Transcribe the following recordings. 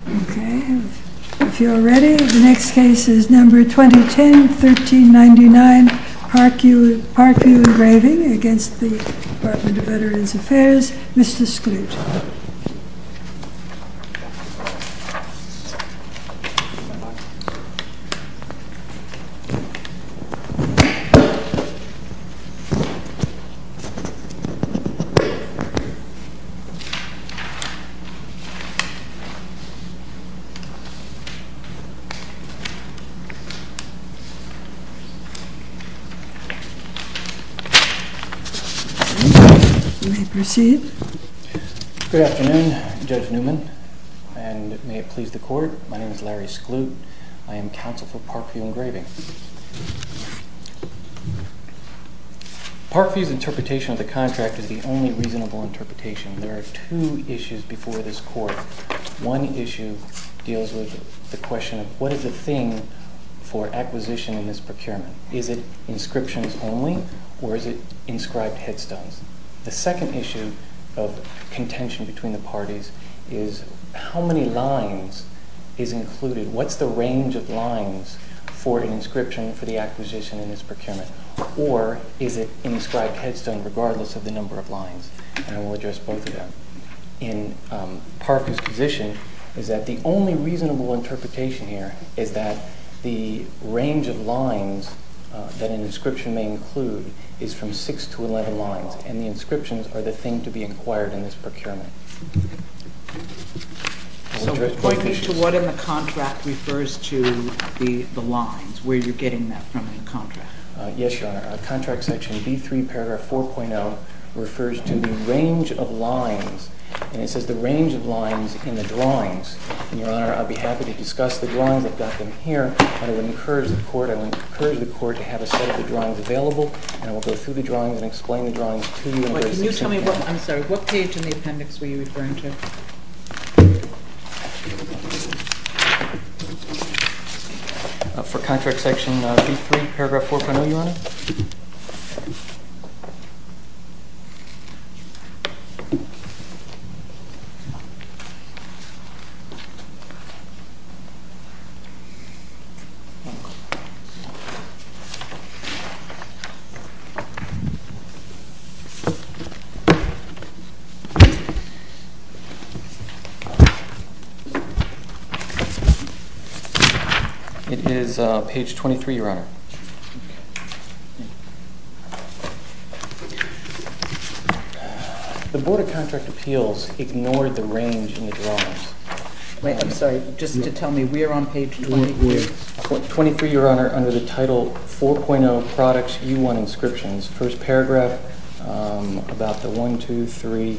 Okay, if you are ready, the next case is number 2010-1399, PARKVIEW ENGRAVING against the Department of Veterans Affairs, Mr. Skloot. You may proceed. Good afternoon, Judge Newman, and may it please the Court, my name is Larry Skloot. I am counsel for PARKVIEW ENGRAVING. Parkview's interpretation of the contract is the only reasonable interpretation. There are two issues before this Court. One issue deals with the question of what is the thing for acquisition in this procurement. Is it inscriptions only, or is it inscribed headstones? The second issue of contention between the parties is how many lines is included? What's the range of lines for an inscription for the acquisition in this procurement? Or is it inscribed headstone regardless of the number of lines? And I will address both of them. In Parkview's position is that the only reasonable interpretation here is that the range of lines that an inscription may include is from 6 to 11 lines, and the inscriptions are the thing to be acquired in this procurement. So point me to what in the contract refers to the lines, where you're getting that from in the contract. Yes, Your Honor. Contract section B3 paragraph 4.0 refers to the range of lines, and it says the range of lines in the drawings. And, Your Honor, I'd be happy to discuss the drawings. I've got them here. I would encourage the Court to have a set of the drawings available, and I will go through the drawings and explain the drawings to you. Can you tell me what page in the appendix were you referring to? For contract section B3 paragraph 4.0, Your Honor. It is page 23, Your Honor. The Board of Contract Appeals ignored the range in the drawings. Wait, I'm sorry. Just to tell me, we are on page 23? 23, Your Honor, under the title 4.0 Products, U1 Inscriptions. First paragraph, about the 1, 2, 3,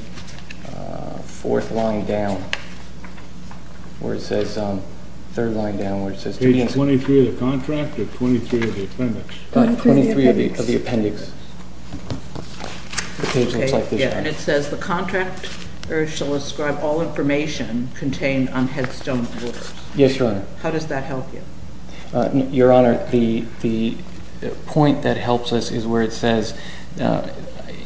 4th line down, where it says, 3rd line down, where it says... Page 23 of the contract or 23 of the appendix? 23 of the appendix. 23 of the appendix. The page looks like this. Yeah, and it says the contract shall ascribe all information contained on headstone orders. Yes, Your Honor. How does that help you? Your Honor, the point that helps us is where it says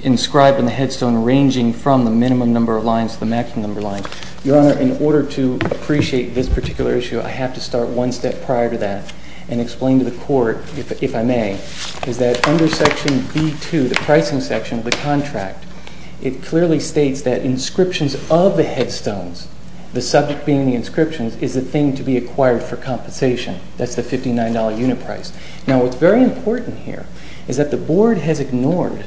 inscribed on the headstone ranging from the minimum number of lines to the maximum number of lines. Your Honor, in order to appreciate this particular issue, I have to start one step prior to that and explain to the Court, if I may, is that under section B2, the pricing section of the contract, it clearly states that inscriptions of the headstones, the subject being the inscriptions, is the thing to be acquired for compensation. That's the $59 unit price. Now, what's very important here is that the Board has ignored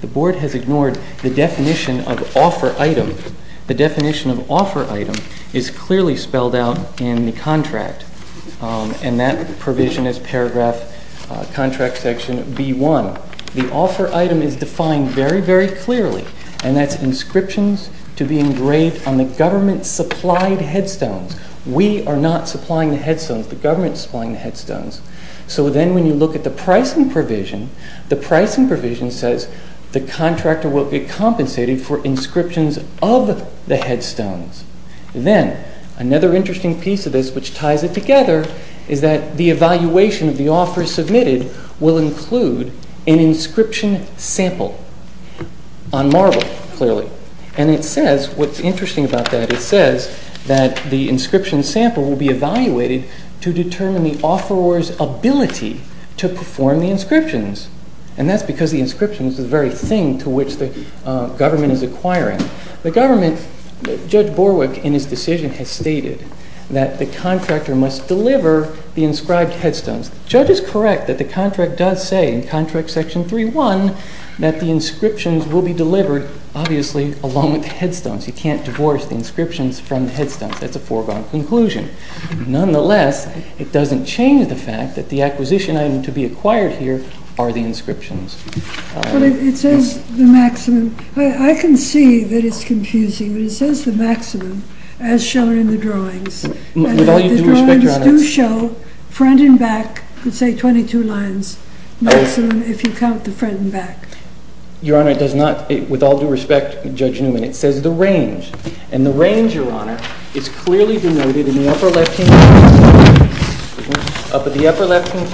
the definition of offer item. The definition of offer item is clearly spelled out in the contract, and that provision is paragraph, contract section B1. The offer item is defined very, very clearly, and that's inscriptions to be engraved on the government-supplied headstones. We are not supplying the headstones. The government is supplying the headstones. So then when you look at the pricing provision, the pricing provision says the contractor will get compensated for inscriptions of the headstones. Then, another interesting piece of this which ties it together is that the evaluation of the offer submitted will include an inscription sample on marble, clearly. And it says, what's interesting about that, it says that the inscription sample will be evaluated to determine the offeror's ability to perform the inscriptions. And that's because the inscriptions is the very thing to which the government is acquiring. The government, Judge Borwick in his decision has stated that the contractor must deliver the inscribed headstones. The judge is correct that the contract does say in contract section 3.1 that the inscriptions will be delivered, obviously, along with the headstones. You can't divorce the inscriptions from the headstones. That's a foregone conclusion. Nonetheless, it doesn't change the fact that the acquisition item to be acquired here are the inscriptions. But it says the maximum. I can see that it's confusing. But it says the maximum as shown in the drawings. With all due respect, Your Honor. And the drawings do show front and back, let's say 22 lines, maximum if you count the front and back. Your Honor, it does not. With all due respect, Judge Newman, it says the range. And the range, Your Honor, is clearly denoted in the upper left hand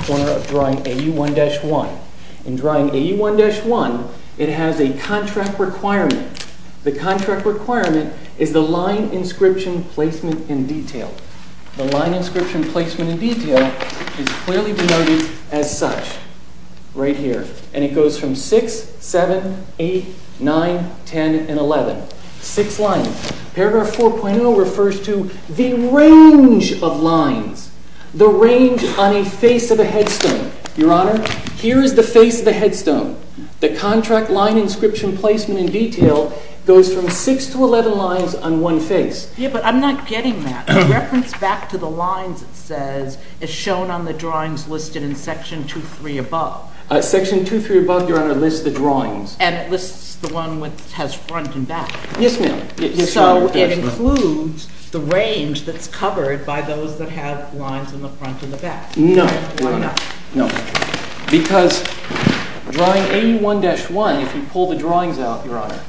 corner of drawing AU1-1. In drawing AU1-1, it has a contract requirement. The contract requirement is the line inscription placement in detail. The line inscription placement in detail is clearly denoted as such right here. And it goes from 6, 7, 8, 9, 10, and 11. Six lines. Paragraph 4.0 refers to the range of lines. The range on a face of a headstone. Your Honor, here is the face of the headstone. The contract line inscription placement in detail goes from 6 to 11 lines on one face. Yeah, but I'm not getting that. The reference back to the lines, it says, is shown on the drawings listed in Section 23 above. Section 23 above, Your Honor, lists the drawings. And it lists the one which has front and back. Yes, ma'am. So it includes the range that's covered by those that have lines in the front and the back. No. Why not? No. Because drawing AU1-1, if you pull the drawings out, Your Honor,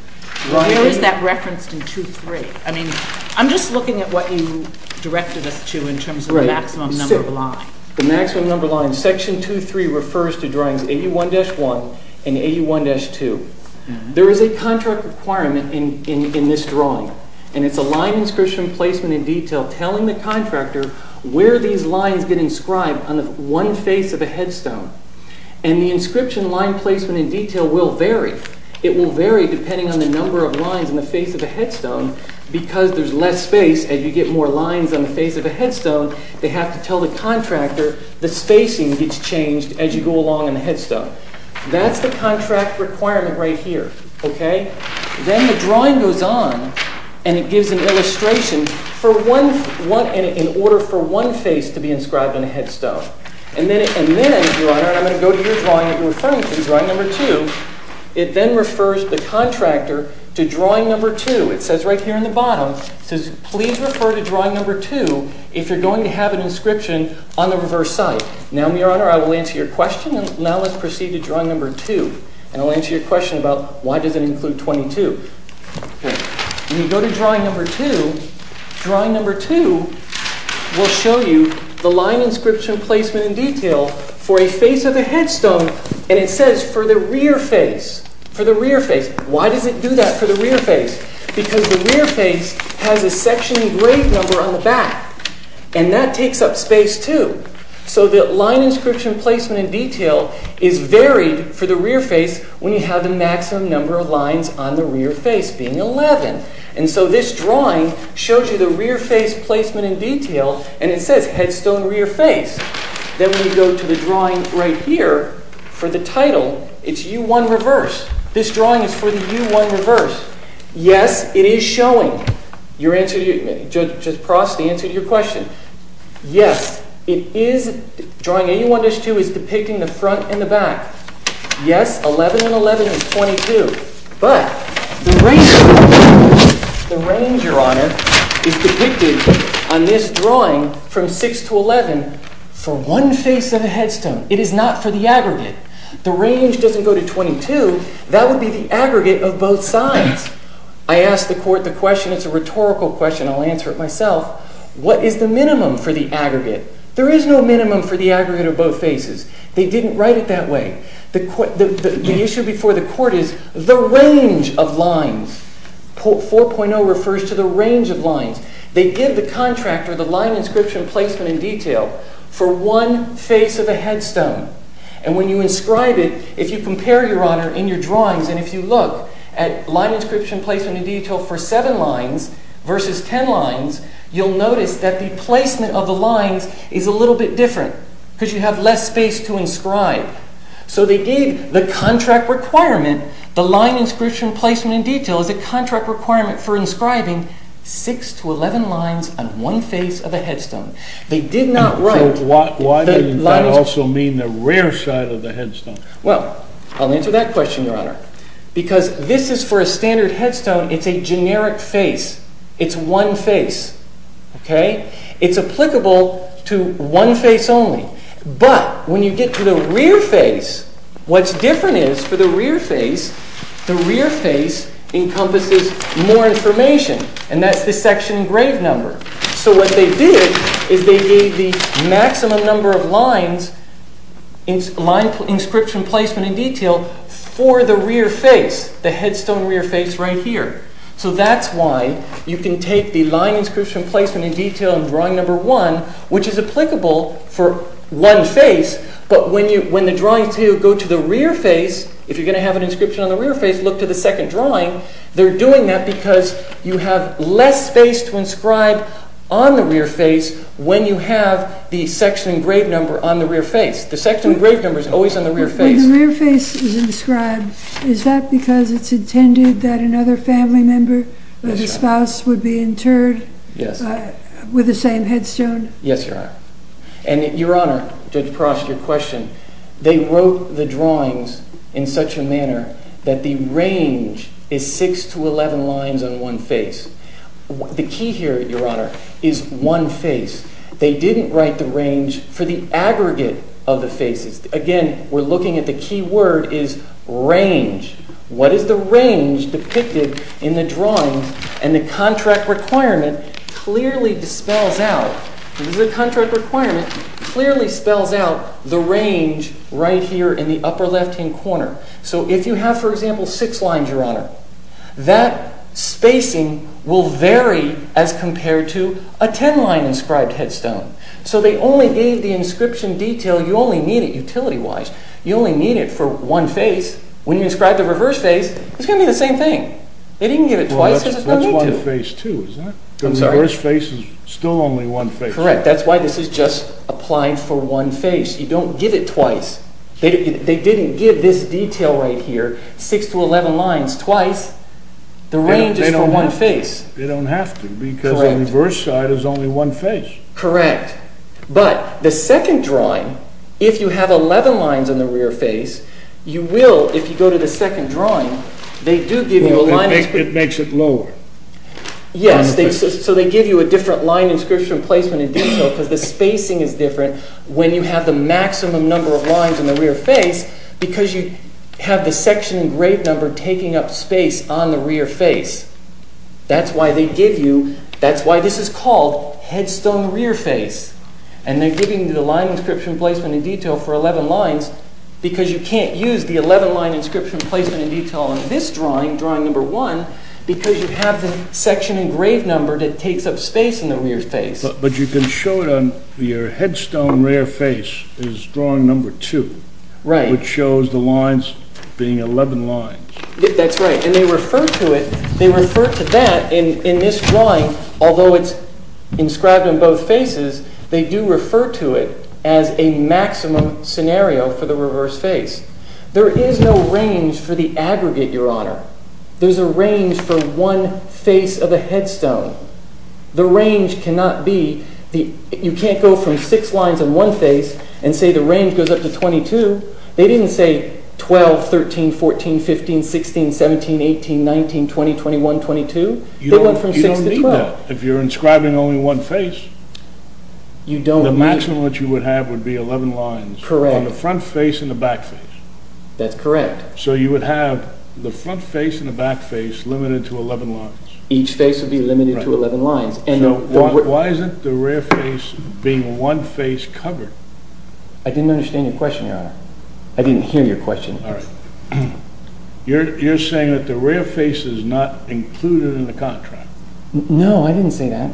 Where is that referenced in 23? I mean, I'm just looking at what you directed us to in terms of the maximum number of lines. The maximum number of lines. Section 23 refers to drawings AU1-1 and AU1-2. There is a contract requirement in this drawing, and it's a line inscription placement in detail telling the contractor where these lines get inscribed on the one face of a headstone. And the inscription line placement in detail will vary. It will vary depending on the number of lines on the face of the headstone because there's less space as you get more lines on the face of the headstone. They have to tell the contractor the spacing gets changed as you go along on the headstone. That's the contract requirement right here. Okay? Then the drawing goes on, and it gives an illustration in order for one face to be inscribed on a headstone. And then, Your Honor, I'm going to go to your drawing that you're referring to, drawing number 2. It then refers the contractor to drawing number 2. It says right here on the bottom, it says, If you're going to have an inscription on the reverse side. Now, Your Honor, I will answer your question, and now let's proceed to drawing number 2. And I'll answer your question about why does it include 22. When you go to drawing number 2, drawing number 2 will show you the line inscription placement in detail for a face of the headstone, and it says for the rear face. Why does it do that for the rear face? Because the rear face has a sectioning grade number on the back, and that takes up space too. So the line inscription placement in detail is varied for the rear face when you have the maximum number of lines on the rear face being 11. And so this drawing shows you the rear face placement in detail, and it says headstone rear face. Then when you go to the drawing right here for the title, it's U1 reverse. This drawing is for the U1 reverse. Yes, it is showing. Judge Prost, the answer to your question. Yes, it is. Drawing AU1-2 is depicting the front and the back. Yes, 11 and 11 is 22. But the range, Your Honor, is depicted on this drawing from 6 to 11 for one face of a headstone. It is not for the aggregate. The range doesn't go to 22. That would be the aggregate of both sides. I asked the court the question. It's a rhetorical question. I'll answer it myself. What is the minimum for the aggregate? There is no minimum for the aggregate of both faces. They didn't write it that way. The issue before the court is the range of lines. 4.0 refers to the range of lines. They give the contractor the line inscription placement in detail for one face of a headstone. And when you inscribe it, if you compare, Your Honor, in your drawings, and if you look at line inscription placement in detail for 7 lines versus 10 lines, you'll notice that the placement of the lines is a little bit different. Because you have less space to inscribe. So they gave the contract requirement, the line inscription placement in detail, is a contract requirement for inscribing 6 to 11 lines on one face of a headstone. Why does that also mean the rear side of the headstone? Well, I'll answer that question, Your Honor. Because this is for a standard headstone, it's a generic face. It's one face. It's applicable to one face only. But when you get to the rear face, what's different is for the rear face, the rear face encompasses more information. And that's the section engraved number. So what they did is they gave the maximum number of lines, line inscription placement in detail, for the rear face, the headstone rear face right here. So that's why you can take the line inscription placement in detail in drawing number 1, which is applicable for one face, but when the drawings go to the rear face, if you're going to have an inscription on the rear face, look to the second drawing. They're doing that because you have less space to inscribe on the rear face when you have the section engraved number on the rear face. The section engraved number is always on the rear face. When the rear face is inscribed, is that because it's intended that another family member, another spouse would be interred with the same headstone? Yes, Your Honor. And, Your Honor, Judge Prost, your question, they wrote the drawings in such a manner that the range is 6 to 11 lines on one face. The key here, Your Honor, is one face. They didn't write the range for the aggregate of the faces. Again, we're looking at the key word is range. What is the range depicted in the drawings? And the contract requirement clearly dispels out, the contract requirement clearly spells out the range right here in the upper left-hand corner. So if you have, for example, 6 lines, Your Honor, that spacing will vary as compared to a 10-line inscribed headstone. So they only gave the inscription detail. You only need it utility-wise. You only need it for one face. When you inscribe the reverse face, it's going to be the same thing. They didn't give it twice because there's no need to. The reverse face is still only one face. Correct. That's why this is just applied for one face. You don't give it twice. They didn't give this detail right here, 6 to 11 lines, twice. The range is for one face. They don't have to because the reverse side is only one face. Correct. But the second drawing, if you have 11 lines on the rear face, you will, if you go to the second drawing, they do give you alignment. It makes it lower. Yes, so they give you a different line inscription placement in detail because the spacing is different when you have the maximum number of lines on the rear face because you have the section engraved number taking up space on the rear face. That's why they give you, that's why this is called headstone rear face. And they're giving you the line inscription placement in detail for 11 lines because you can't use the 11-line inscription placement in detail in this drawing, drawing number 1, because you have the section engraved number that takes up space in the rear face. But you can show it on your headstone rear face is drawing number 2. Right. Which shows the lines being 11 lines. That's right, and they refer to it, they refer to that in this drawing, although it's inscribed on both faces, they do refer to it as a maximum scenario for the reverse face. There is no range for the aggregate, Your Honor. There's a range for one face of a headstone. The range cannot be, you can't go from 6 lines on one face and say the range goes up to 22. They didn't say 12, 13, 14, 15, 16, 17, 18, 19, 20, 21, 22. They went from 6 to 12. You don't need that. If you're inscribing only one face, the maximum that you would have would be 11 lines on the front face and the back face. That's correct. So you would have the front face and the back face limited to 11 lines. Each face would be limited to 11 lines. Why isn't the rear face being one face covered? I didn't understand your question, Your Honor. I didn't hear your question. All right. You're saying that the rear face is not included in the contract. No, I didn't say that.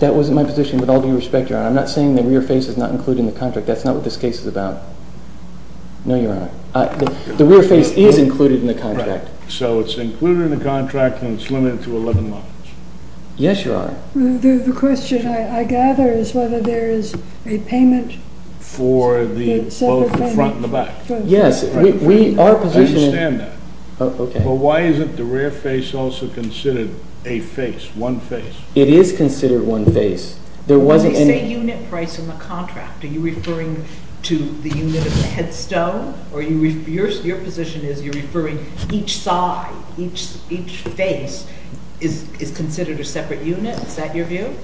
That wasn't my position with all due respect, Your Honor. I'm not saying the rear face is not included in the contract. That's not what this case is about. No, Your Honor. The rear face is included in the contract. Right. So it's included in the contract and it's limited to 11 lines. Yes, Your Honor. The question I gather is whether there is a payment for both the front and the back. Yes. I understand that. Okay. But why isn't the rear face also considered a face, one face? It is considered one face. When they say unit price in the contract, are you referring to the unit of the headstone? Or your position is you're referring each side, each face is considered a separate unit? Is that your view?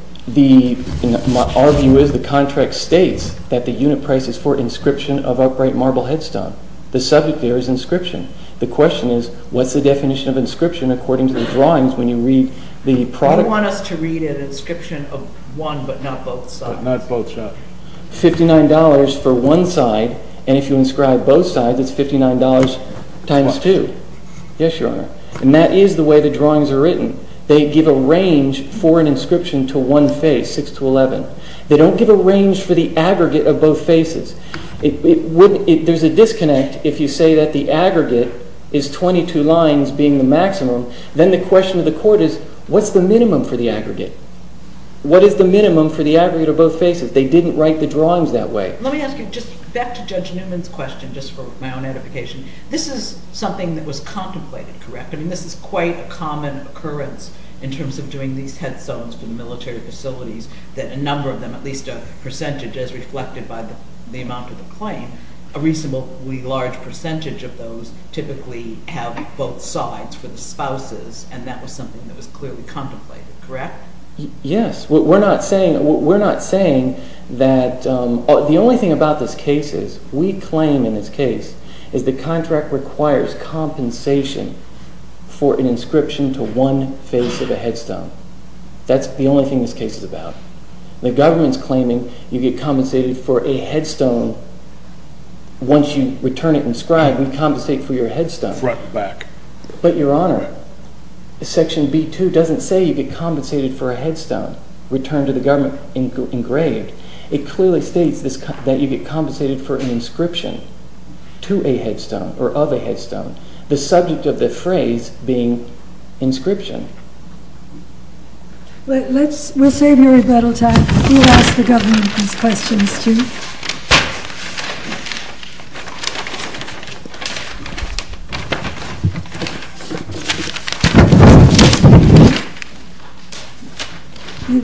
Our view is the contract states that the unit price is for inscription of upright marble headstone. The subject there is inscription. The question is what's the definition of inscription according to the drawings when you read the product? They want us to read an inscription of one but not both sides. But not both sides. $59 for one side, and if you inscribe both sides, it's $59 times 2. Yes, Your Honor. And that is the way the drawings are written. They give a range for an inscription to one face, 6 to 11. They don't give a range for the aggregate of both faces. There's a disconnect if you say that the aggregate is 22 lines being the maximum. Then the question of the court is what's the minimum for the aggregate? What is the minimum for the aggregate of both faces? They didn't write the drawings that way. Let me ask you just back to Judge Newman's question just for my own edification. This is something that was contemplated, correct? I mean this is quite a common occurrence in terms of doing these headstones for the military facilities that a number of them, at least a percentage as reflected by the amount of the claim, a reasonably large percentage of those typically have both sides for the spouses, and that was something that was clearly contemplated, correct? Yes. We're not saying that the only thing about this case is we claim in this case is the contract requires compensation for an inscription to one face of a headstone. That's the only thing this case is about. The government's claiming you get compensated for a headstone once you return it inscribed. We compensate for your headstone. But, Your Honor, Section B.2 doesn't say you get compensated for a headstone returned to the government engraved. It clearly states that you get compensated for an inscription to a headstone or of a headstone, the subject of the phrase being inscription. We'll save your rebuttal time. We'll ask the government these questions too.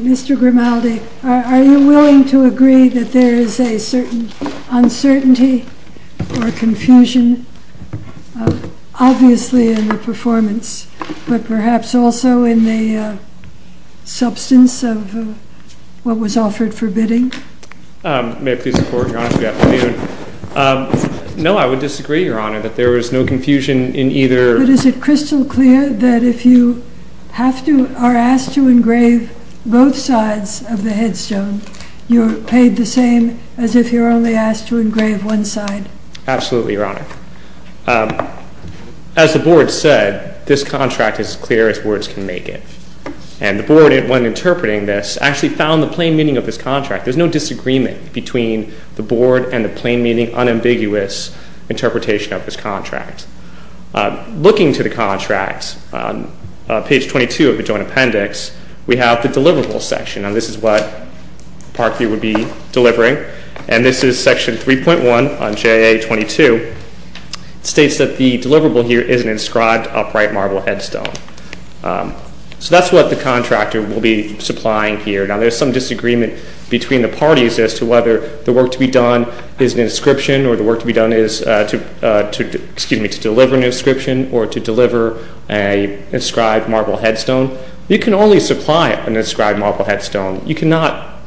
Mr. Grimaldi, are you willing to agree that there is a certain uncertainty or confusion, obviously in the performance, but perhaps also in the substance of what was offered for bidding? May I please report, Your Honor, to the afternoon? No, I would disagree, Your Honor, that there was no confusion in either... But is it crystal clear that if you are asked to engrave both sides of the headstone, you're paid the same as if you're only asked to engrave one side? Absolutely, Your Honor. As the Board said, this contract is as clear as words can make it. And the Board, when interpreting this, actually found the plain meaning of this contract. There's no disagreement between the Board and the plain meaning, unambiguous interpretation of this contract. Looking to the contract, on page 22 of the Joint Appendix, we have the deliverable section. Now, this is what Parkview would be delivering. And this is section 3.1 on JA-22. It states that the deliverable here is an inscribed upright marble headstone. So that's what the contractor will be supplying here. Now, there's some disagreement between the parties as to whether the work to be done is an inscription or the work to be done is to deliver an inscription or to deliver an inscribed marble headstone. You can only supply an inscribed marble headstone. You cannot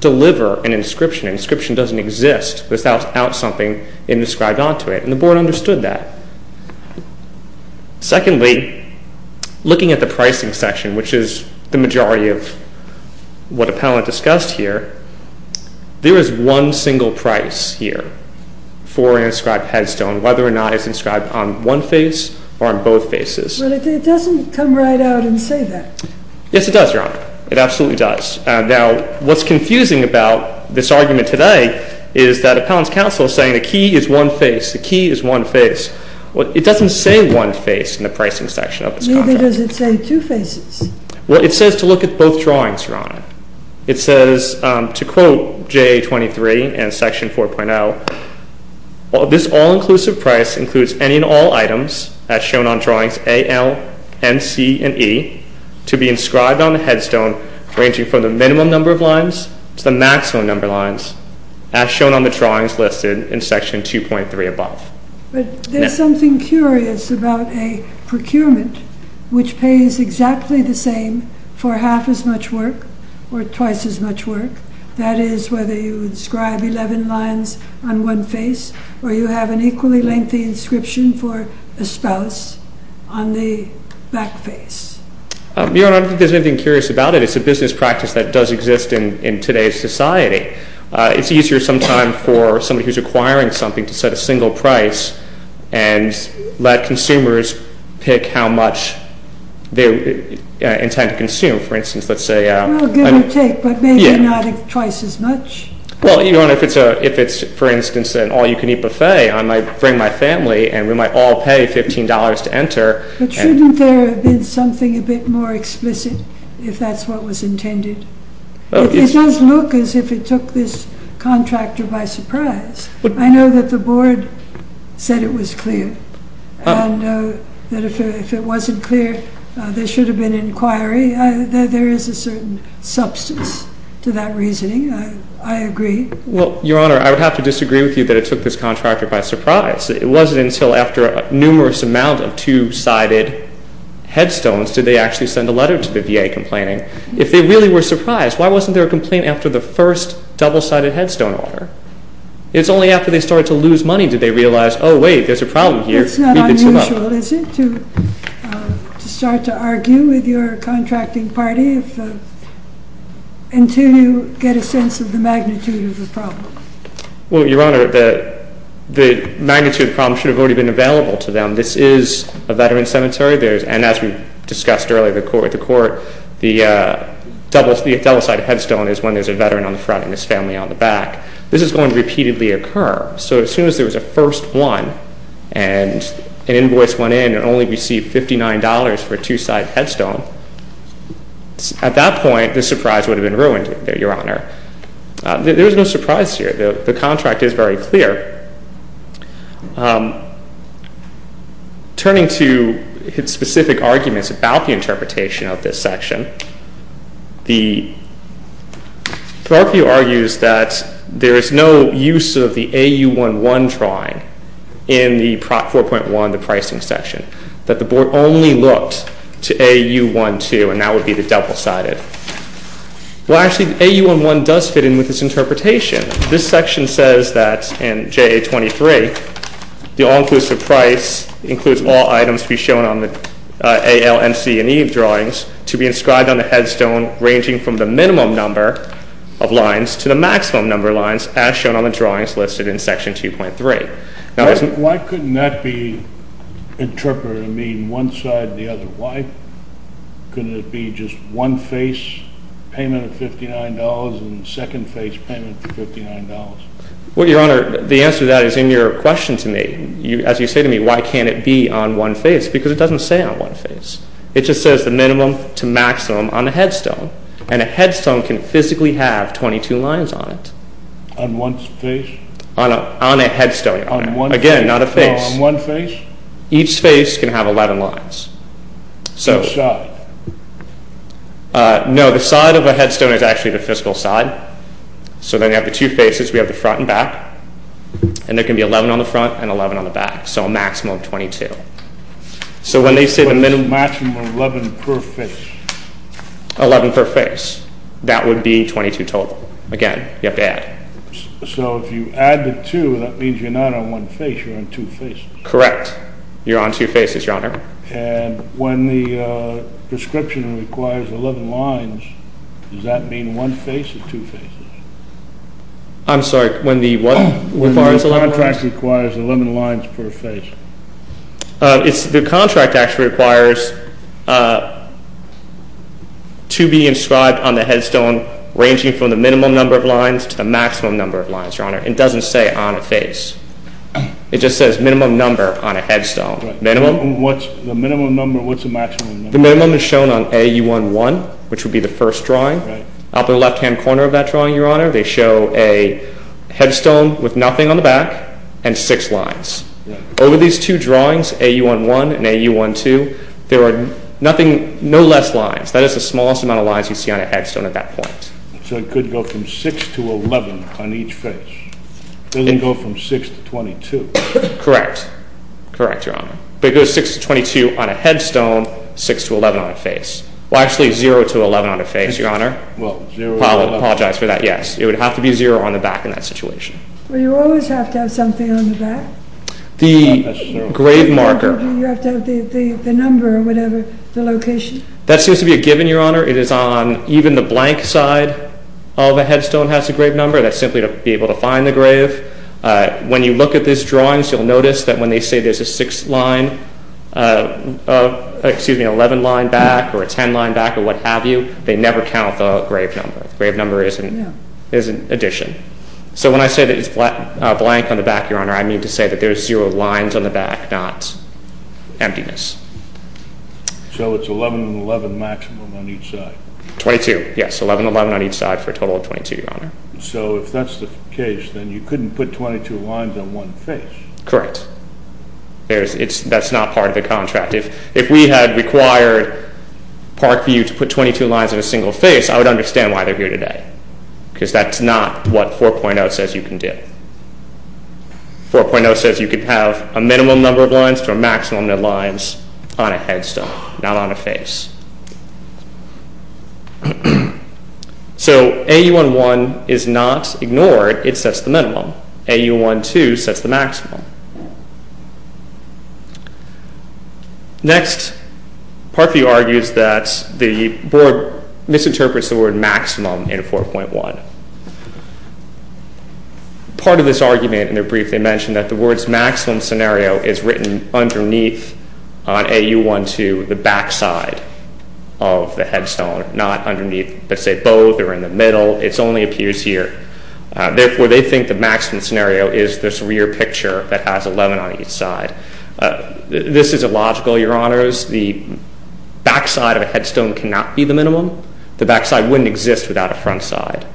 deliver an inscription. An inscription doesn't exist without something inscribed onto it. And the Board understood that. Secondly, looking at the pricing section, which is the majority of what Appellant discussed here, there is one single price here for an inscribed headstone, whether or not it's inscribed on one face or on both faces. Well, it doesn't come right out and say that. Yes, it does, Your Honor. It absolutely does. Now, what's confusing about this argument today is that Appellant's counsel is saying the key is one face. The key is one face. It doesn't say one face in the pricing section of this contract. Neither does it say two faces. Well, it says to look at both drawings, Your Honor. It says to quote JA-23 and section 4.0, This all-inclusive price includes any and all items as shown on drawings A, L, N, C, and E to be inscribed on the headstone ranging from the minimum number of lines to the maximum number of lines as shown on the drawings listed in section 2.3 above. But there's something curious about a procurement which pays exactly the same for half as much work or twice as much work. That is whether you inscribe 11 lines on one face or you have an equally lengthy inscription for a spouse on the back face. Your Honor, I don't think there's anything curious about it. It's a business practice that does exist in today's society. It's easier sometimes for somebody who's acquiring something to set a single price and let consumers pick how much they intend to consume. For instance, let's say... Well, give or take, but maybe not twice as much. Well, Your Honor, if it's, for instance, an all-you-can-eat buffet, I might bring my family and we might all pay $15 to enter. But shouldn't there have been something a bit more explicit if that's what was intended? It does look as if it took this contractor by surprise. I know that the board said it was clear. And that if it wasn't clear, there should have been an inquiry. There is a certain substance to that reasoning. I agree. Well, Your Honor, I would have to disagree with you that it took this contractor by surprise. It wasn't until after a numerous amount of two-sided headstones did they actually send a letter to the VA complaining. If they really were surprised, why wasn't there a complaint after the first double-sided headstone order? It's only after they started to lose money did they realize, oh, wait, there's a problem here. It's not unusual, is it, to start to argue with your contracting party until you get a sense of the magnitude of the problem. Well, Your Honor, the magnitude of the problem should have already been available to them. This is a veteran's cemetery, and as we discussed earlier at the court, the double-sided headstone is when there's a veteran on the front and his family on the back. This is going to repeatedly occur. So as soon as there was a first one and an invoice went in and only received $59 for a two-sided headstone, at that point the surprise would have been ruined, Your Honor. There's no surprise here. The contract is very clear. Turning to specific arguments about the interpretation of this section, the court view argues that there is no use of the AU-1-1 drawing in the Prop 4.1, the pricing section, that the board only looked to AU-1-2, and that would be the double-sided. Well, actually, AU-1-1 does fit in with this interpretation. This section says that in JA-23, the all-inclusive price includes all items to be shown on the A, L, N, C, and E drawings to be inscribed on the headstone ranging from the minimum number of lines to the maximum number of lines as shown on the drawings listed in Section 2.3. Why couldn't that be interpreted to mean one side or the other? Why couldn't it be just one-face payment of $59 and second-face payment for $59? Well, Your Honor, the answer to that is in your question to me. As you say to me, why can't it be on one face? Because it doesn't say on one face. It just says the minimum to maximum on the headstone, and a headstone can physically have 22 lines on it. On one face? On a headstone, Your Honor. On one face? Again, not a face. On one face? Each face can have 11 lines. Which side? No, the side of a headstone is actually the physical side. So then you have the two faces. We have the front and back. And there can be 11 on the front and 11 on the back, so a maximum of 22. So when they say the minimum. Maximum of 11 per face. 11 per face. That would be 22 total. Again, you have to add. So if you add the two, that means you're not on one face, you're on two faces. Correct. You're on two faces, Your Honor. And when the prescription requires 11 lines, does that mean one face or two faces? I'm sorry. When the contract requires 11 lines per face. The contract actually requires to be inscribed on the headstone, ranging from the minimum number of lines to the maximum number of lines, Your Honor. It doesn't say on a face. It just says minimum number on a headstone. The minimum number, what's the maximum number? The minimum is shown on AU11, which would be the first drawing. Up in the left-hand corner of that drawing, Your Honor, they show a headstone with nothing on the back and six lines. Over these two drawings, AU11 and AU12, there are no less lines. That is the smallest amount of lines you see on a headstone at that point. So it could go from 6 to 11 on each face. It doesn't go from 6 to 22. Correct. Correct, Your Honor. But it goes 6 to 22 on a headstone, 6 to 11 on a face. Well, actually 0 to 11 on a face, Your Honor. Apologize for that, yes. It would have to be 0 on the back in that situation. Well, you always have to have something on the back. The grave marker. You have to have the number or whatever, the location. That seems to be a given, Your Honor. It is on even the blank side of a headstone has a grave number. That's simply to be able to find the grave. When you look at these drawings, you'll notice that when they say there's a 6 line, excuse me, an 11 line back or a 10 line back or what have you, they never count the grave number. The grave number is an addition. So when I say that it's blank on the back, Your Honor, I mean to say that there's 0 lines on the back, not emptiness. So it's 11 and 11 maximum on each side. 22, yes, 11 and 11 on each side for a total of 22, Your Honor. So if that's the case, then you couldn't put 22 lines on one face. Correct. That's not part of the contract. If we had required Parkview to put 22 lines on a single face, I would understand why they're here today because that's not what 4.0 says you can do. 4.0 says you could have a minimum number of lines to a maximum number of lines on a headstone, not on a face. So AU-1-1 is not ignored. It sets the minimum. AU-1-2 sets the maximum. Next, Parkview argues that the board misinterprets the word maximum in 4.1. Part of this argument in their brief, they mention that the words maximum scenario is written underneath on AU-1-2, the backside of the headstone, not underneath, let's say, both or in the middle. It only appears here. Therefore, they think the maximum scenario is this rear picture that has 11 on each side. This is illogical, Your Honors. The backside of a headstone cannot be the minimum. The backside wouldn't exist without a front side.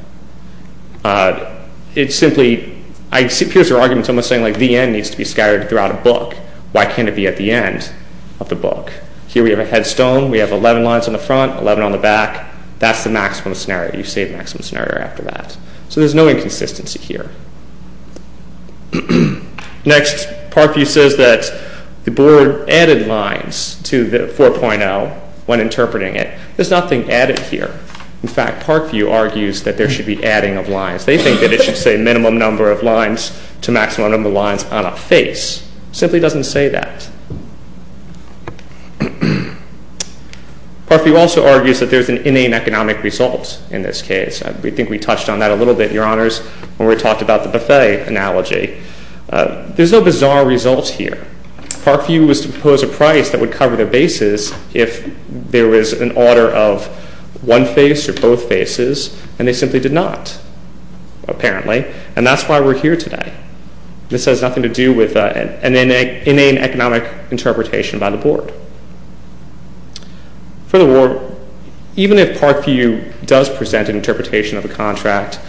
It simply appears their argument is almost saying, like, the end needs to be scattered throughout a book. Why can't it be at the end of the book? Here we have a headstone. We have 11 lines on the front, 11 on the back. That's the maximum scenario. You say the maximum scenario after that. So there's no inconsistency here. Next, Parkview says that the board added lines to 4.0 when interpreting it. There's nothing added here. In fact, Parkview argues that there should be adding of lines. They think that it should say minimum number of lines to maximum number of lines on a face. It simply doesn't say that. Parkview also argues that there's an inane economic result in this case. I think we touched on that a little bit, Your Honors, when we talked about the buffet analogy. There's no bizarre result here. Parkview was to propose a price that would cover their bases if there was an order of one face or both faces, and they simply did not, apparently, and that's why we're here today. This has nothing to do with an inane economic interpretation by the board. Furthermore, even if Parkview does present an interpretation of a contract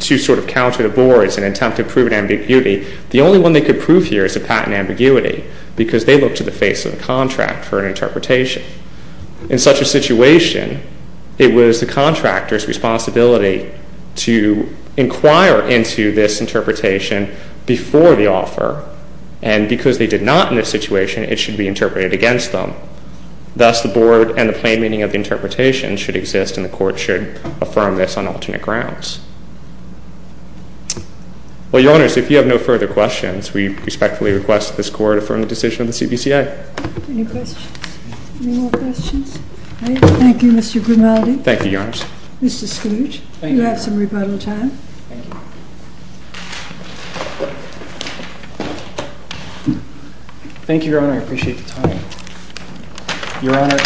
to sort of counter the board's and attempt to prove an ambiguity, the only one they could prove here is a patent ambiguity because they look to the face of the contract for an interpretation. In such a situation, it was the contractor's responsibility to inquire into this interpretation before the offer, and because they did not in this situation, it should be interpreted against them. Thus, the board and the plain meaning of the interpretation should exist and the court should affirm this on alternate grounds. Well, Your Honors, if you have no further questions, we respectfully request that this Court affirm the decision of the CPCA. Any questions? Any more questions? All right. Thank you, Mr. Grimaldi. Thank you, Your Honors. Mr. Skloot, you have some rebuttal time. Thank you. Thank you, Your Honor. I appreciate the time. Your Honor,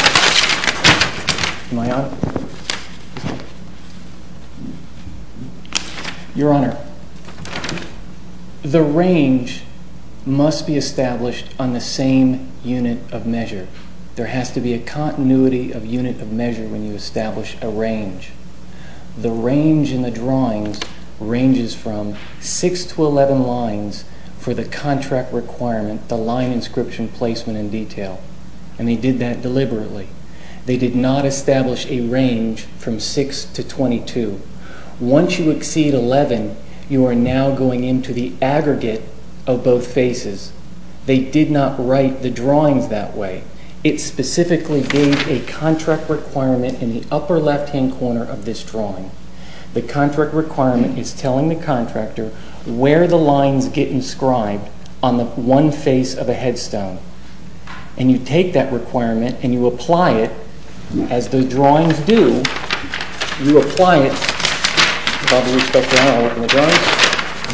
am I on? Your Honor, the range must be established on the same unit of measure. There has to be a continuity of unit of measure when you establish a range. The range in the drawings ranges from 6 to 11 lines for the contract requirement, the line inscription placement in detail, and they did that deliberately. They did not establish a range from 6 to 22. Once you exceed 11, you are now going into the aggregate of both faces. They did not write the drawings that way. It specifically gave a contract requirement in the upper left-hand corner of this drawing. The contract requirement is telling the contractor where the lines get inscribed on the one face of a headstone, and you take that requirement and you apply it. As the drawings do, you apply it.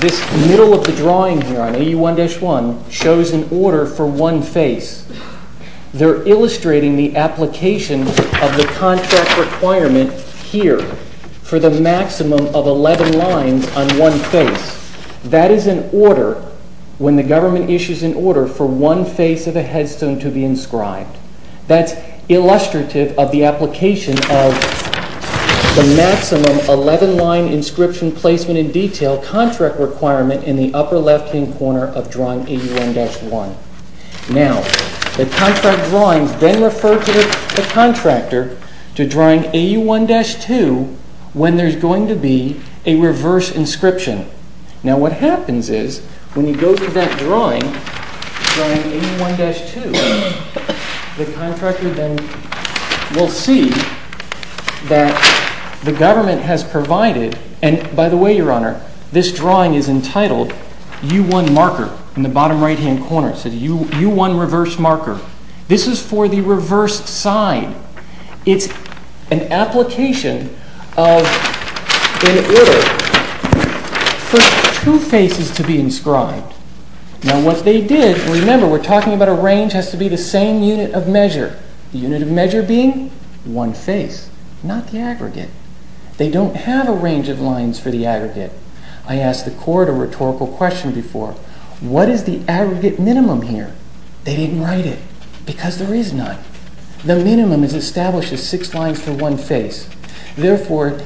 This middle of the drawing here on AU1-1 shows an order for one face. They're illustrating the application of the contract requirement here for the maximum of 11 lines on one face. That is an order when the government issues an order for one face of a headstone to be inscribed. That's illustrative of the application of the maximum 11-line inscription placement in detail contract requirement in the upper left-hand corner of drawing AU1-1. Now, the contract drawings then refer to the contractor to drawing AU1-2 when there's going to be a reverse inscription. Now, what happens is when you go through that drawing, drawing AU1-2, the contractor then will see that the government has provided, and by the way, Your Honor, this drawing is entitled U1 Marker in the bottom right-hand corner. It says U1 Reverse Marker. This is for the reversed side. It's an application of an order for two faces to be inscribed. Now, what they did, remember we're talking about a range has to be the same unit of measure. The unit of measure being one face, not the aggregate. They don't have a range of lines for the aggregate. I asked the court a rhetorical question before. What is the aggregate minimum here? They didn't write it because there is none. The minimum is established as six lines for one face. Therefore,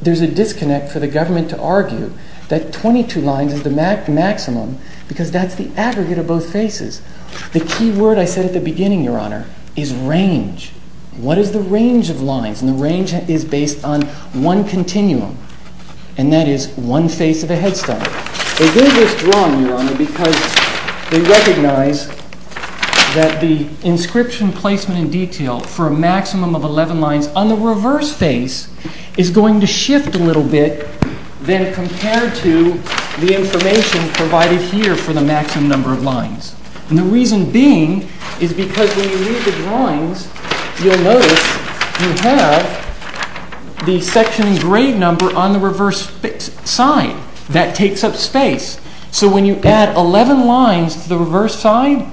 there's a disconnect for the government to argue that 22 lines is the maximum because that's the aggregate of both faces. The key word I said at the beginning, Your Honor, is range. What is the range of lines? And the range is based on one continuum, and that is one face of a headstone. They did this drawing, Your Honor, because they recognize that the inscription placement in detail for a maximum of 11 lines on the reverse face is going to shift a little bit than compared to the information provided here for the maximum number of lines. And the reason being is because when you read the drawings, you'll notice you have the section grade number on the reverse side. That takes up space. So when you add 11 lines to the reverse side,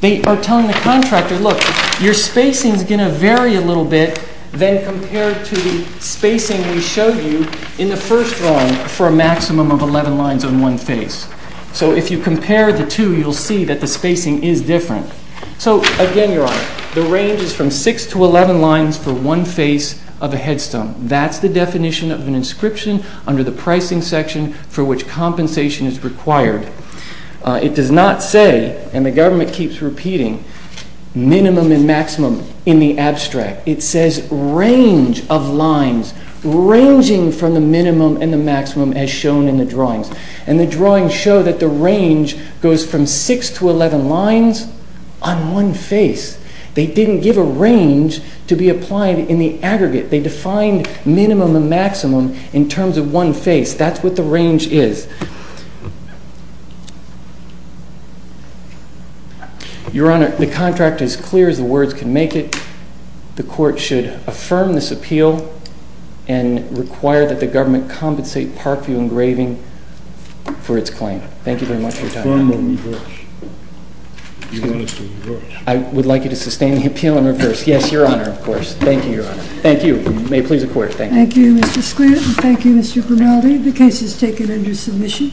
they are telling the contractor, look, your spacing is going to vary a little bit than compared to the spacing we showed you in the first drawing for a maximum of 11 lines on one face. So if you compare the two, you'll see that the spacing is different. So again, Your Honor, the range is from 6 to 11 lines for one face of a headstone. That's the definition of an inscription under the pricing section for which compensation is required. It does not say, and the government keeps repeating, minimum and maximum in the abstract. It says range of lines, ranging from the minimum and the maximum as shown in the drawings. And the drawings show that the range goes from 6 to 11 lines on one face. They didn't give a range to be applied in the aggregate. They defined minimum and maximum in terms of one face. That's what the range is. Your Honor, the contract is clear as the words can make it. The court should affirm this appeal and require that the government compensate Parkview Engraving for its claim. Thank you very much for your time. I would like you to sustain the appeal and reverse. Yes, Your Honor, of course. Thank you, Your Honor. Thank you. May it please the court. Thank you. Thank you, Mr. Squirt. Thank you, Mr. Grimaldi. The case is taken under submission.